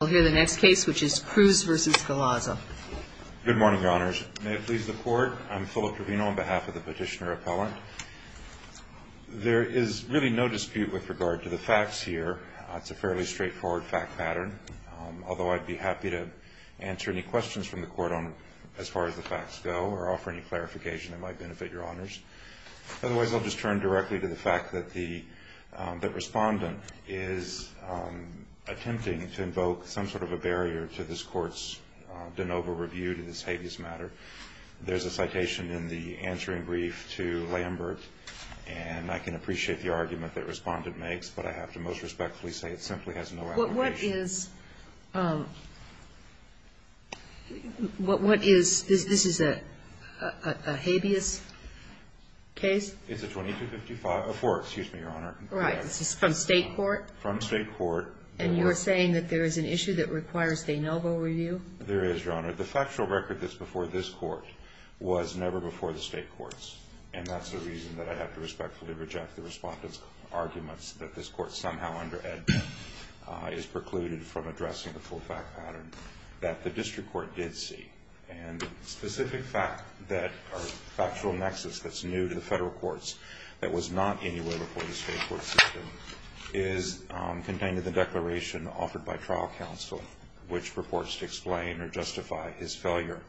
We'll hear the next case, which is Cruz v. Galaza. Good morning, Your Honors. May it please the Court, I'm Philip Trevino on behalf of the Petitioner-Appellant. There is really no dispute with regard to the facts here. It's a fairly straightforward fact pattern. Although I'd be happy to answer any questions from the Court on as far as the facts go or offer any clarification that might benefit Your Honors. Otherwise, I'll just turn directly to the fact that the Respondent is attempting to invoke some sort of a barrier to this Court's de novo review to this habeas matter. There's a citation in the answering brief to Lambert, and I can appreciate the argument that Respondent makes, but I have to most respectfully say it simply has no application. But what is, what is, this is a habeas case? It's a 2255, a four, excuse me, Your Honor. Right. This is from State court? From State court. And you're saying that there is an issue that requires de novo review? There is, Your Honor. The factual record that's before this Court was never before the State courts, and that's the reason that I have to respectfully reject the Respondent's arguments that this Court somehow under-ed. is precluded from addressing the full fact pattern that the District Court did see. And the specific fact that our factual nexus that's new to the Federal courts that was not anywhere before the State court system is contained in the declaration offered by trial counsel, which purports to explain or justify his failure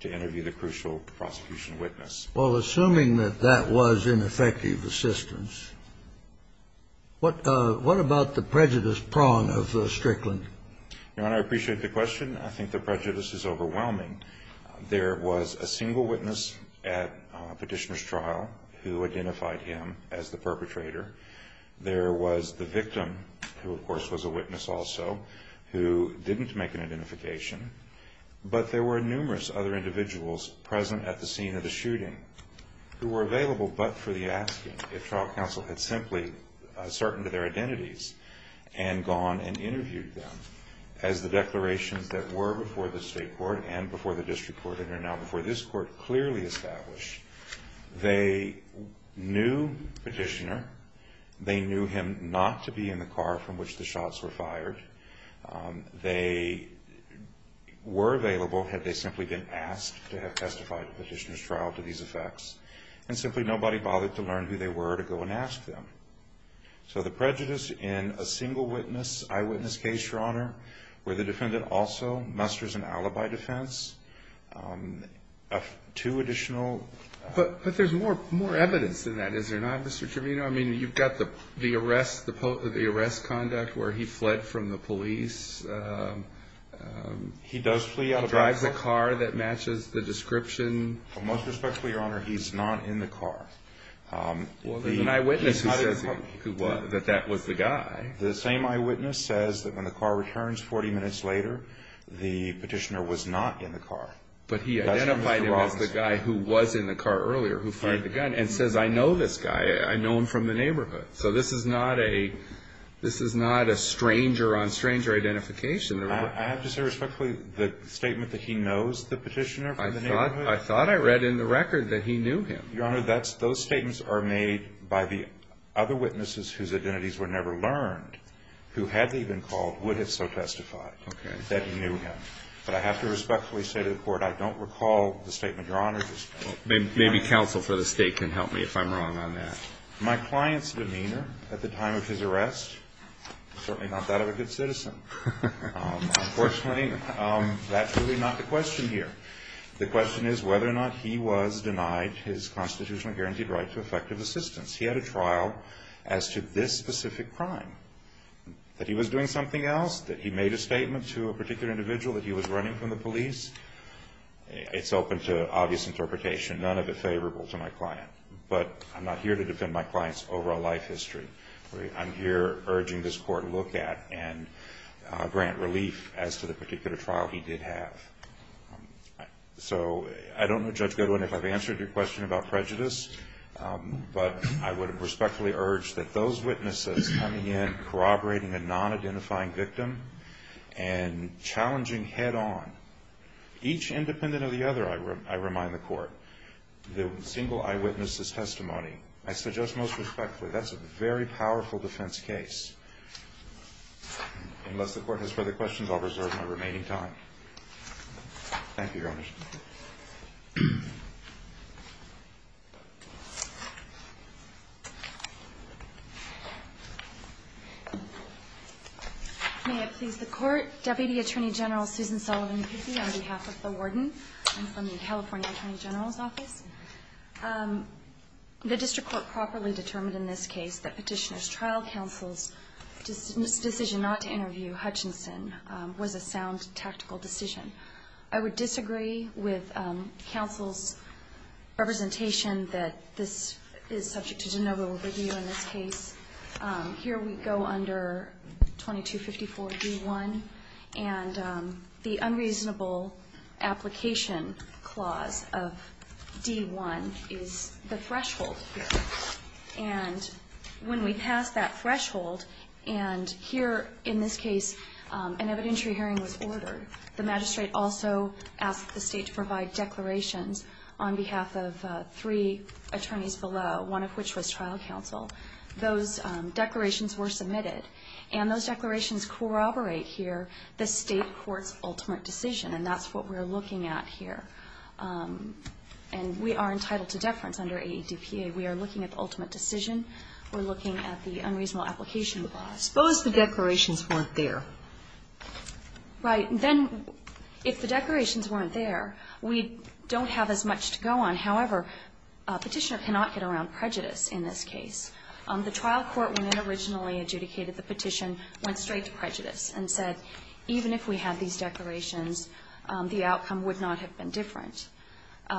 to interview the crucial prosecution witness. Well, assuming that that was ineffective assistance, what about the prejudice prong of Strickland? Your Honor, I appreciate the question. I think the prejudice is overwhelming. There was a single witness at Petitioner's trial who identified him as the perpetrator. There was the victim, who of course was a witness also, who didn't make an identification. But there were numerous other individuals present at the scene of the shooting who were available but for the asking if trial counsel had simply ascertained their identities and gone and interviewed them. As the declarations that were before the State court and before the District court and are now before this court clearly establish, they knew Petitioner. They knew him not to be in the car from which the shots were fired. They were available had they simply been asked to have testified at Petitioner's trial to these effects. And simply nobody bothered to learn who they were to go and ask them. So the prejudice in a single witness, eyewitness case, Your Honor, where the defendant also musters an alibi defense, two additional... But there's more evidence than that, is there not, Mr. Trivino? I mean, you've got the arrest conduct where he fled from the police. He does flee out of the car? He drives a car that matches the description. Well, most respectfully, Your Honor, he's not in the car. Well, there's an eyewitness who says that that was the guy. The same eyewitness says that when the car returns 40 minutes later, the Petitioner was not in the car. But he identified him as the guy who was in the car earlier who fired the gun and says, I know this guy. I know him from the neighborhood. So this is not a stranger on stranger identification. I have to say respectfully, the statement that he knows the Petitioner from the neighborhood? I thought I read in the record that he knew him. Your Honor, those statements are made by the other witnesses whose identities were never learned, who had they been called, would have so testified that he knew him. But I have to respectfully say to the Court, I don't recall the statement, Your Honor. Maybe counsel for the State can help me if I'm wrong on that. My client's demeanor at the time of his arrest? Certainly not that of a good citizen. Unfortunately, that's really not the question here. The question is whether or not he was denied his constitutionally guaranteed right to effective assistance. He had a trial as to this specific crime. That he was doing something else? That he made a statement to a particular individual that he was running from the police? It's open to obvious interpretation, none of it favorable to my client. But I'm not here to defend my client's overall life history. I'm here urging this Court to look at and grant relief as to the particular trial he did have. So I don't know, Judge Goodwin, if I've answered your question about prejudice. But I would respectfully urge that those witnesses coming in corroborating a non-identifying victim and challenging head-on, each independent of the other, I remind the Court, the single eyewitness's testimony. I suggest most respectfully, that's a very powerful defense case. Unless the Court has further questions, I'll reserve my remaining time. Thank you, Your Honor. May it please the Court. Deputy Attorney General Susan Sullivan Pizzi on behalf of the Warden. I'm from the California Attorney General's Office. The District Court properly determined in this case that Petitioner's trial counsel's decision not to interview Hutchinson was a sound tactical decision. I would disagree with counsel's representation that this is subject to de novo review in this case. Here we go under 2254 D1. And the unreasonable application clause of D1 is the threshold here. And when we pass that threshold, and here in this case an evidentiary hearing was ordered, the magistrate also asked the State to provide declarations on behalf of three attorneys below, one of which was trial counsel. Those declarations were submitted. And those declarations corroborate here the State court's ultimate decision. And that's what we're looking at here. And we are entitled to deference under AEDPA. We are looking at the ultimate decision. We're looking at the unreasonable application clause. Suppose the declarations weren't there. Right. Then if the declarations weren't there, we don't have as much to go on. However, Petitioner cannot get around prejudice in this case. The trial court when it originally adjudicated the petition went straight to prejudice and said even if we had these declarations, the outcome would not have been different.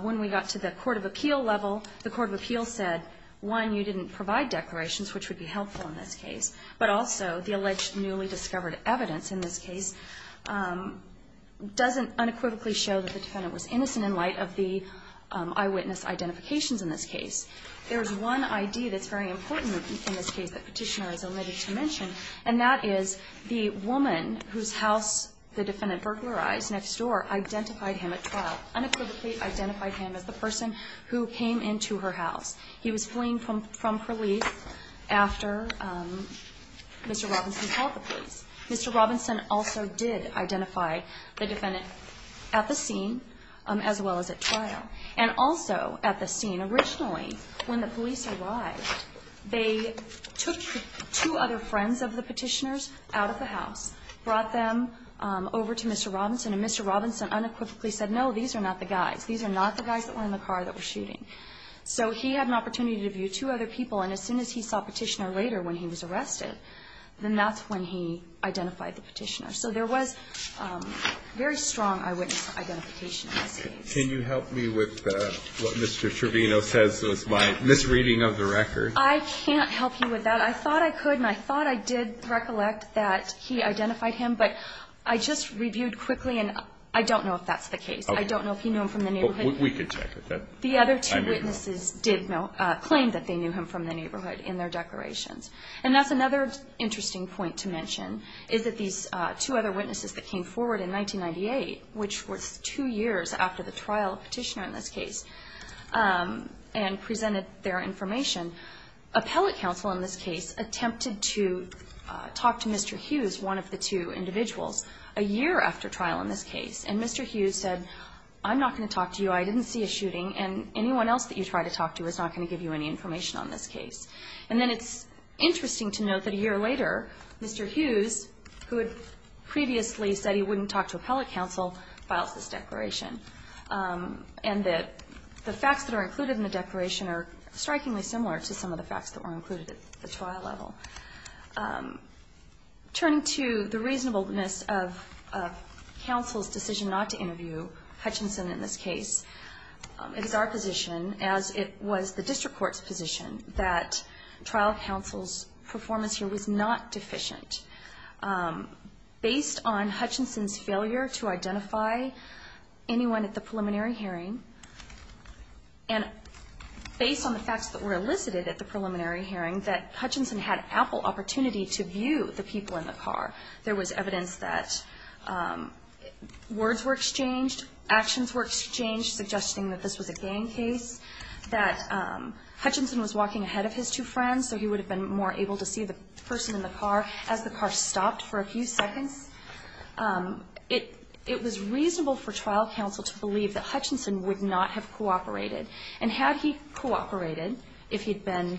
When we got to the court of appeal level, the court of appeal said, one, you didn't provide declarations, which would be helpful in this case. But also the alleged newly discovered evidence in this case doesn't unequivocally show that the defendant was innocent in light of the eyewitness identifications in this case. There's one idea that's very important in this case that Petitioner is omitted to mention, and that is the woman whose house the defendant burglarized next door identified him at trial, unequivocally identified him as the person who came into her house. He was fleeing from police after Mr. Robinson called the police. Mr. Robinson also did identify the defendant at the scene as well as at trial, and also at the scene. Originally when the police arrived, they took two other friends of the Petitioner's out of the house, brought them over to Mr. Robinson, and Mr. Robinson unequivocally said, no, these are not the guys. These are not the guys that were in the car that were shooting. So he had an opportunity to view two other people, and as soon as he saw Petitioner later when he was arrested, then that's when he identified the Petitioner. So there was very strong eyewitness identification in this case. Can you help me with what Mr. Trevino says was my misreading of the record? I can't help you with that. I thought I could, and I thought I did recollect that he identified him, but I just reviewed quickly, and I don't know if that's the case. I don't know if you know him from the neighborhood. We could check it. The other two witnesses did claim that they knew him from the neighborhood in their declarations. And that's another interesting point to mention is that these two other witnesses that came forward in 1998, which was two years after the trial of Petitioner in this case, and presented their information. Appellate counsel in this case attempted to talk to Mr. Hughes, one of the two individuals, a year after trial in this case, and Mr. Hughes said, I'm not going to talk to you. I didn't see a shooting, and anyone else that you try to talk to is not going to give you any information on this case. And then it's interesting to note that a year later, Mr. Hughes, who had previously said he wouldn't talk to appellate counsel, files this declaration. And the facts that are included in the declaration are strikingly similar to some of the facts that were included at the trial level. Turning to the reasonableness of counsel's decision not to interview Hutchinson in this case, it is our position, as it was the district court's position, that trial counsel's performance here was not deficient. Based on Hutchinson's failure to identify anyone at the preliminary hearing, and based on the facts that were elicited at the preliminary hearing, that Hutchinson had ample opportunity to view the people in the car. There was evidence that words were exchanged, actions were exchanged, suggesting that this was a gang case, that Hutchinson was walking ahead of his two friends, so he would have been more able to see the person in the car as the car stopped for a few seconds. It was reasonable for trial counsel to believe that Hutchinson would not have cooperated. And had he cooperated, if he'd been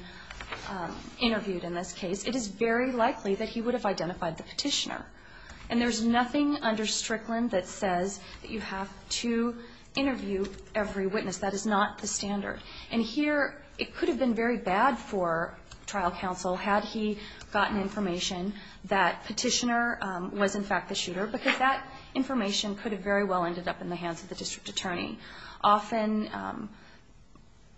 interviewed in this case, it is very likely that he would have identified the Petitioner. And there's nothing under Strickland that says that you have to interview every witness. That is not the standard. And here it could have been very bad for trial counsel had he gotten information that Petitioner was, in fact, the shooter, because that information could have very well ended up in the hands of the district attorney. Often,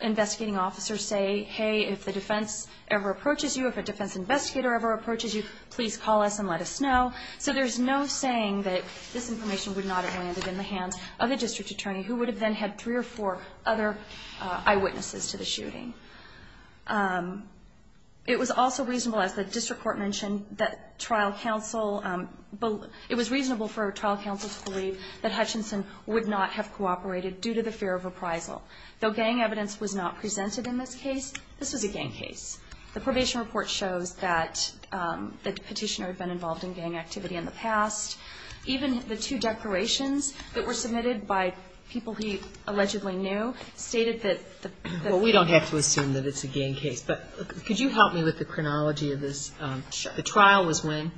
investigating officers say, hey, if the defense ever approaches you, if a defense investigator ever approaches you, please call us and let us know. So there's no saying that this information would not have landed in the hands of the district attorney, who would have then had three or four other eyewitnesses to the shooting. It was also reasonable, as the district court mentioned, that trial counsel – it was reasonable for trial counsel to believe that Hutchinson would not have cooperated due to the fear of reprisal. Though gang evidence was not presented in this case, this was a gang case. The probation report shows that the Petitioner had been involved in gang activity in the past. Even the two declarations that were submitted by people he allegedly knew stated that the – Well, we don't have to assume that it's a gang case. But could you help me with the chronology of this? Sure. The trial was when?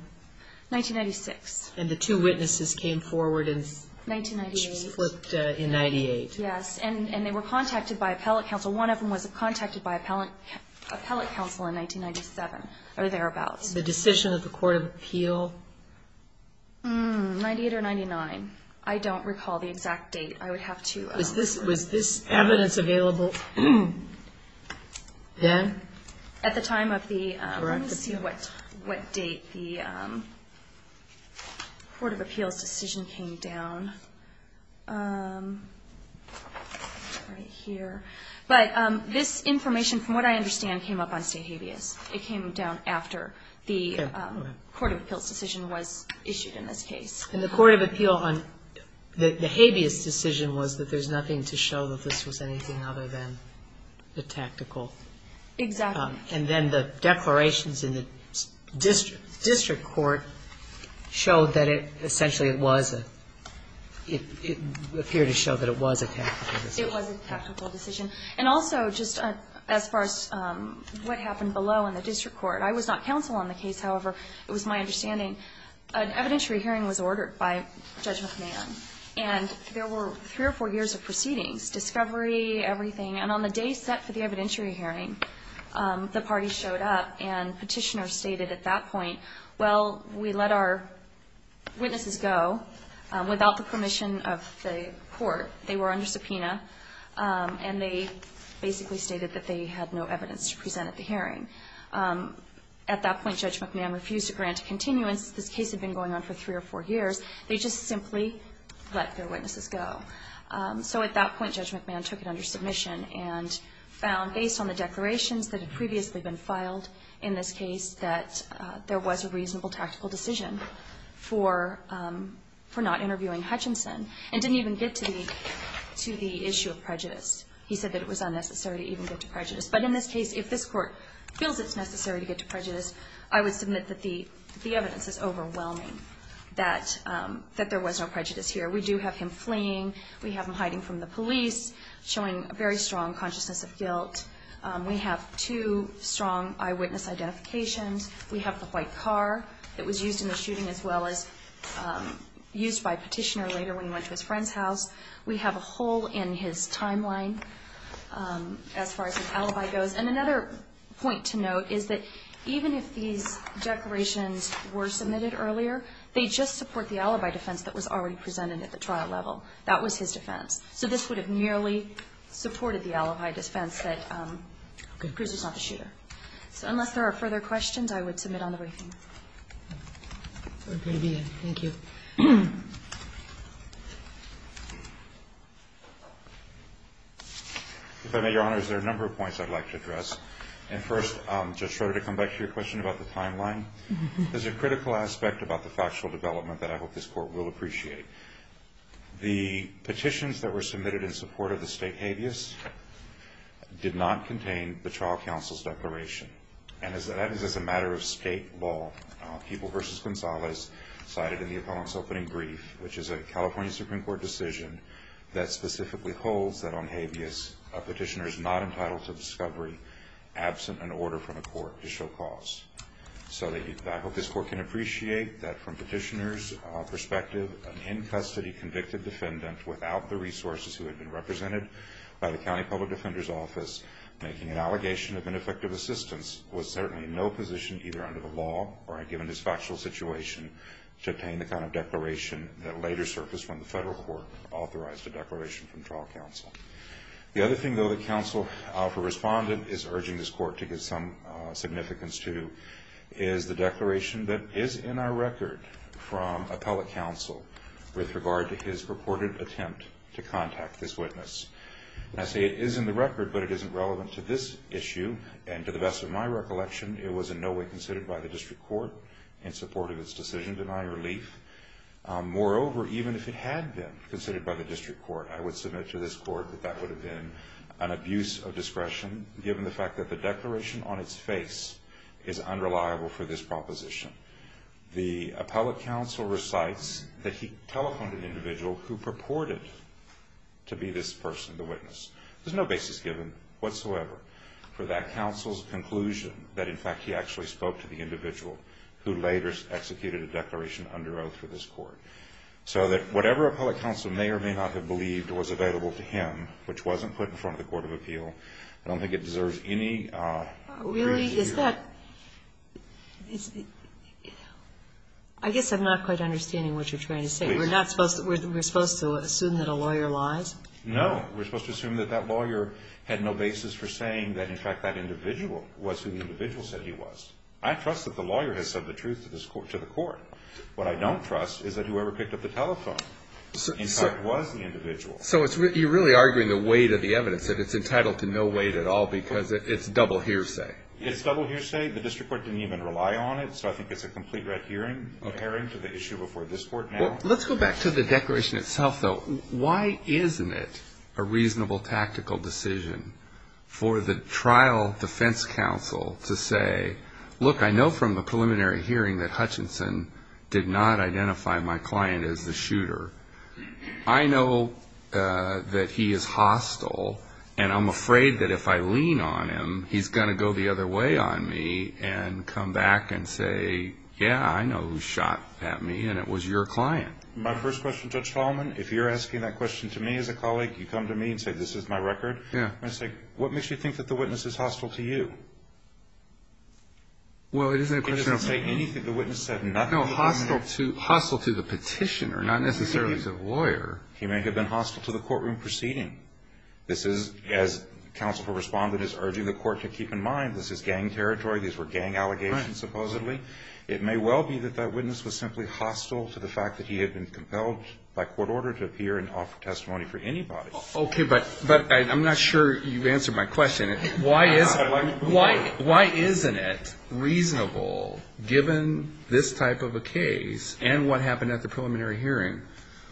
1996. And the two witnesses came forward and – 1998. The two witnesses flipped in 1998. Yes. And they were contacted by appellate counsel. One of them was contacted by appellate counsel in 1997, or thereabouts. The decision of the court of appeal? 1998 or 1999. I don't recall the exact date. I would have to – Was this evidence available then? At the time of the – Correct. Let's see what date the court of appeals decision came down. Right here. But this information, from what I understand, came up on state habeas. It came down after the court of appeals decision was issued in this case. And the court of appeal on the habeas decision was that there's nothing to show that this was anything other than the tactical. Exactly. And then the declarations in the district court showed that it essentially was a – it appeared to show that it was a tactical decision. It was a tactical decision. And also, just as far as what happened below in the district court, I was not counsel on the case. However, it was my understanding an evidentiary hearing was ordered by Judge McMahon, and on the day set for the evidentiary hearing, the party showed up and petitioners stated at that point, well, we let our witnesses go without the permission of the court. They were under subpoena, and they basically stated that they had no evidence to present at the hearing. At that point, Judge McMahon refused to grant a continuance. This case had been going on for three or four years. They just simply let their witnesses go. So at that point, Judge McMahon took it under submission and found, based on the declarations that had previously been filed in this case, that there was a reasonable tactical decision for not interviewing Hutchinson and didn't even get to the issue of prejudice. He said that it was unnecessary to even get to prejudice. But in this case, if this Court feels it's necessary to get to prejudice, I would submit that the evidence is overwhelming, that there was no prejudice here. We do have him fleeing. We have him hiding from the police, showing a very strong consciousness of guilt. We have two strong eyewitness identifications. We have the white car that was used in the shooting, as well as used by a petitioner later when he went to his friend's house. We have a hole in his timeline, as far as his alibi goes. And another point to note is that even if these declarations were submitted earlier, they just support the alibi defense that was already presented at the trial level. That was his defense. So this would have merely supported the alibi defense that Cruz was not the shooter. So unless there are further questions, I would submit on the briefing. Thank you. If I may, Your Honor, there are a number of points I'd like to address. And first, Judge Schroeder, to come back to your question about the timeline, there's a critical aspect about the factual development that I hope this Court will appreciate. The petitions that were submitted in support of the state habeas did not contain the trial counsel's declaration. And that is as a matter of state law. Keeble v. Gonzalez cited in the appellant's opening brief, which is a California Supreme Court decision that specifically holds that on habeas, a petitioner is not entitled to discovery absent an order from the court to show cause. So I hope this Court can appreciate that from petitioner's perspective, an in-custody convicted defendant without the resources who had been represented by the County Public Defender's Office making an allegation of ineffective assistance was certainly in no position, either under the law or given his factual situation, to obtain the kind of declaration that later surfaced when the federal court authorized a declaration from trial counsel. The other thing, though, that counsel, if a respondent, is urging this Court to give some significance to is the declaration that is in our record from appellate counsel with regard to his purported attempt to contact this witness. And I say it is in the record, but it isn't relevant to this issue. And to the best of my recollection, it was in no way considered by the district court in support of its decision to deny relief. Moreover, even if it had been considered by the district court, I would submit to this court that that would have been an abuse of discretion given the fact that the declaration on its face is unreliable for this proposition. The appellate counsel recites that he telephoned an individual who purported to be this person, the witness. There's no basis given whatsoever for that counsel's conclusion that, in fact, he actually spoke to the individual who later executed a declaration under oath for this court. So that whatever appellate counsel may or may not have believed was available to him, which wasn't put in front of the court of appeal, I don't think it deserves any... Really? Is that... I guess I'm not quite understanding what you're trying to say. Please. We're supposed to assume that a lawyer lies? No, we're supposed to assume that that lawyer had no basis for saying that, in fact, that individual was who the individual said he was. I trust that the lawyer has said the truth to the court. What I don't trust is that whoever picked up the telephone, in fact, was the individual. So you're really arguing the weight of the evidence, that it's entitled to no weight at all because it's double hearsay. It's double hearsay. The district court didn't even rely on it, so I think it's a complete red herring to the issue before this court now. Let's go back to the declaration itself, though. Why isn't it a reasonable tactical decision for the trial defense counsel to say, look, I know from the preliminary hearing that Hutchinson did not identify my client as the shooter. I know that he is hostile, and I'm afraid that if I lean on him, he's going to go the other way on me and come back and say, yeah, I know who shot at me, and it was your client. My first question, Judge Tallman, if you're asking that question to me as a colleague, you come to me and say, this is my record. I'm going to say, what makes you think that the witness is hostile to you? Well, it isn't a question of me. He doesn't say anything. The witness said nothing. No, hostile to the petitioner, not necessarily to the lawyer. He may have been hostile to the courtroom proceeding. This is, as counsel for respondent is urging the court to keep in mind, this is gang territory. These were gang allegations, supposedly. It may well be that that witness was simply hostile to the fact that he had been compelled by court order to appear and offer testimony for anybody. Okay, but I'm not sure you answered my question. Why isn't it reasonable, given this type of a case and what happened at the preliminary hearing,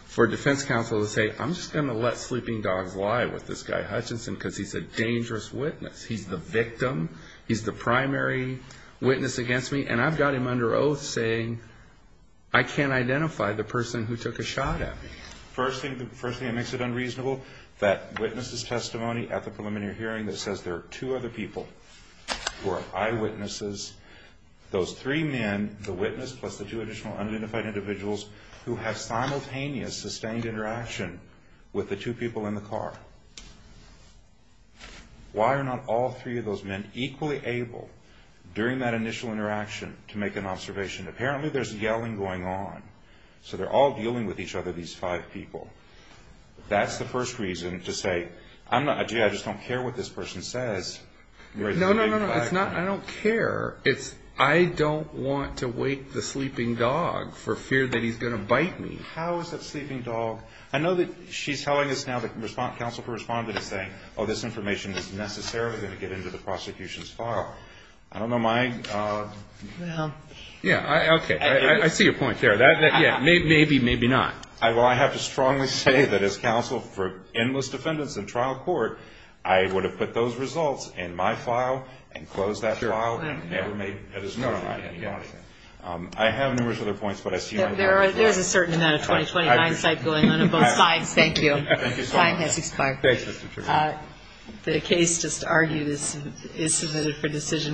for defense counsel to say, I'm just going to let sleeping dogs lie with this guy Hutchinson because he's a dangerous witness. He's the victim. He's the primary witness against me. And I've got him under oath saying I can't identify the person who took a shot at me. First thing that makes it unreasonable, that witness's testimony at the preliminary hearing that says there are two other people who are eyewitnesses, those three men, the witness, plus the two additional unidentified individuals who have simultaneous sustained interaction with the two people in the car. Why are not all three of those men equally able, during that initial interaction, to make an observation? Apparently there's yelling going on. So they're all dealing with each other, these five people. That's the first reason to say, gee, I just don't care what this person says. No, no, no. It's not I don't care. It's I don't want to wake the sleeping dog for fear that he's going to bite me. How is that sleeping dog? I know that she's telling us now the counsel for respondent is saying, oh, this information is necessarily going to get into the prosecution's file. I don't know my. Yeah, okay. I see your point there. Maybe, maybe not. Well, I have to strongly say that as counsel for endless defendants in trial court, I would have put those results in my file and closed that file. Sure. I have numerous other points. There's a certain amount of 2029 going on on both sides. Thank you. Time has expired. The case just argued is submitted for decision.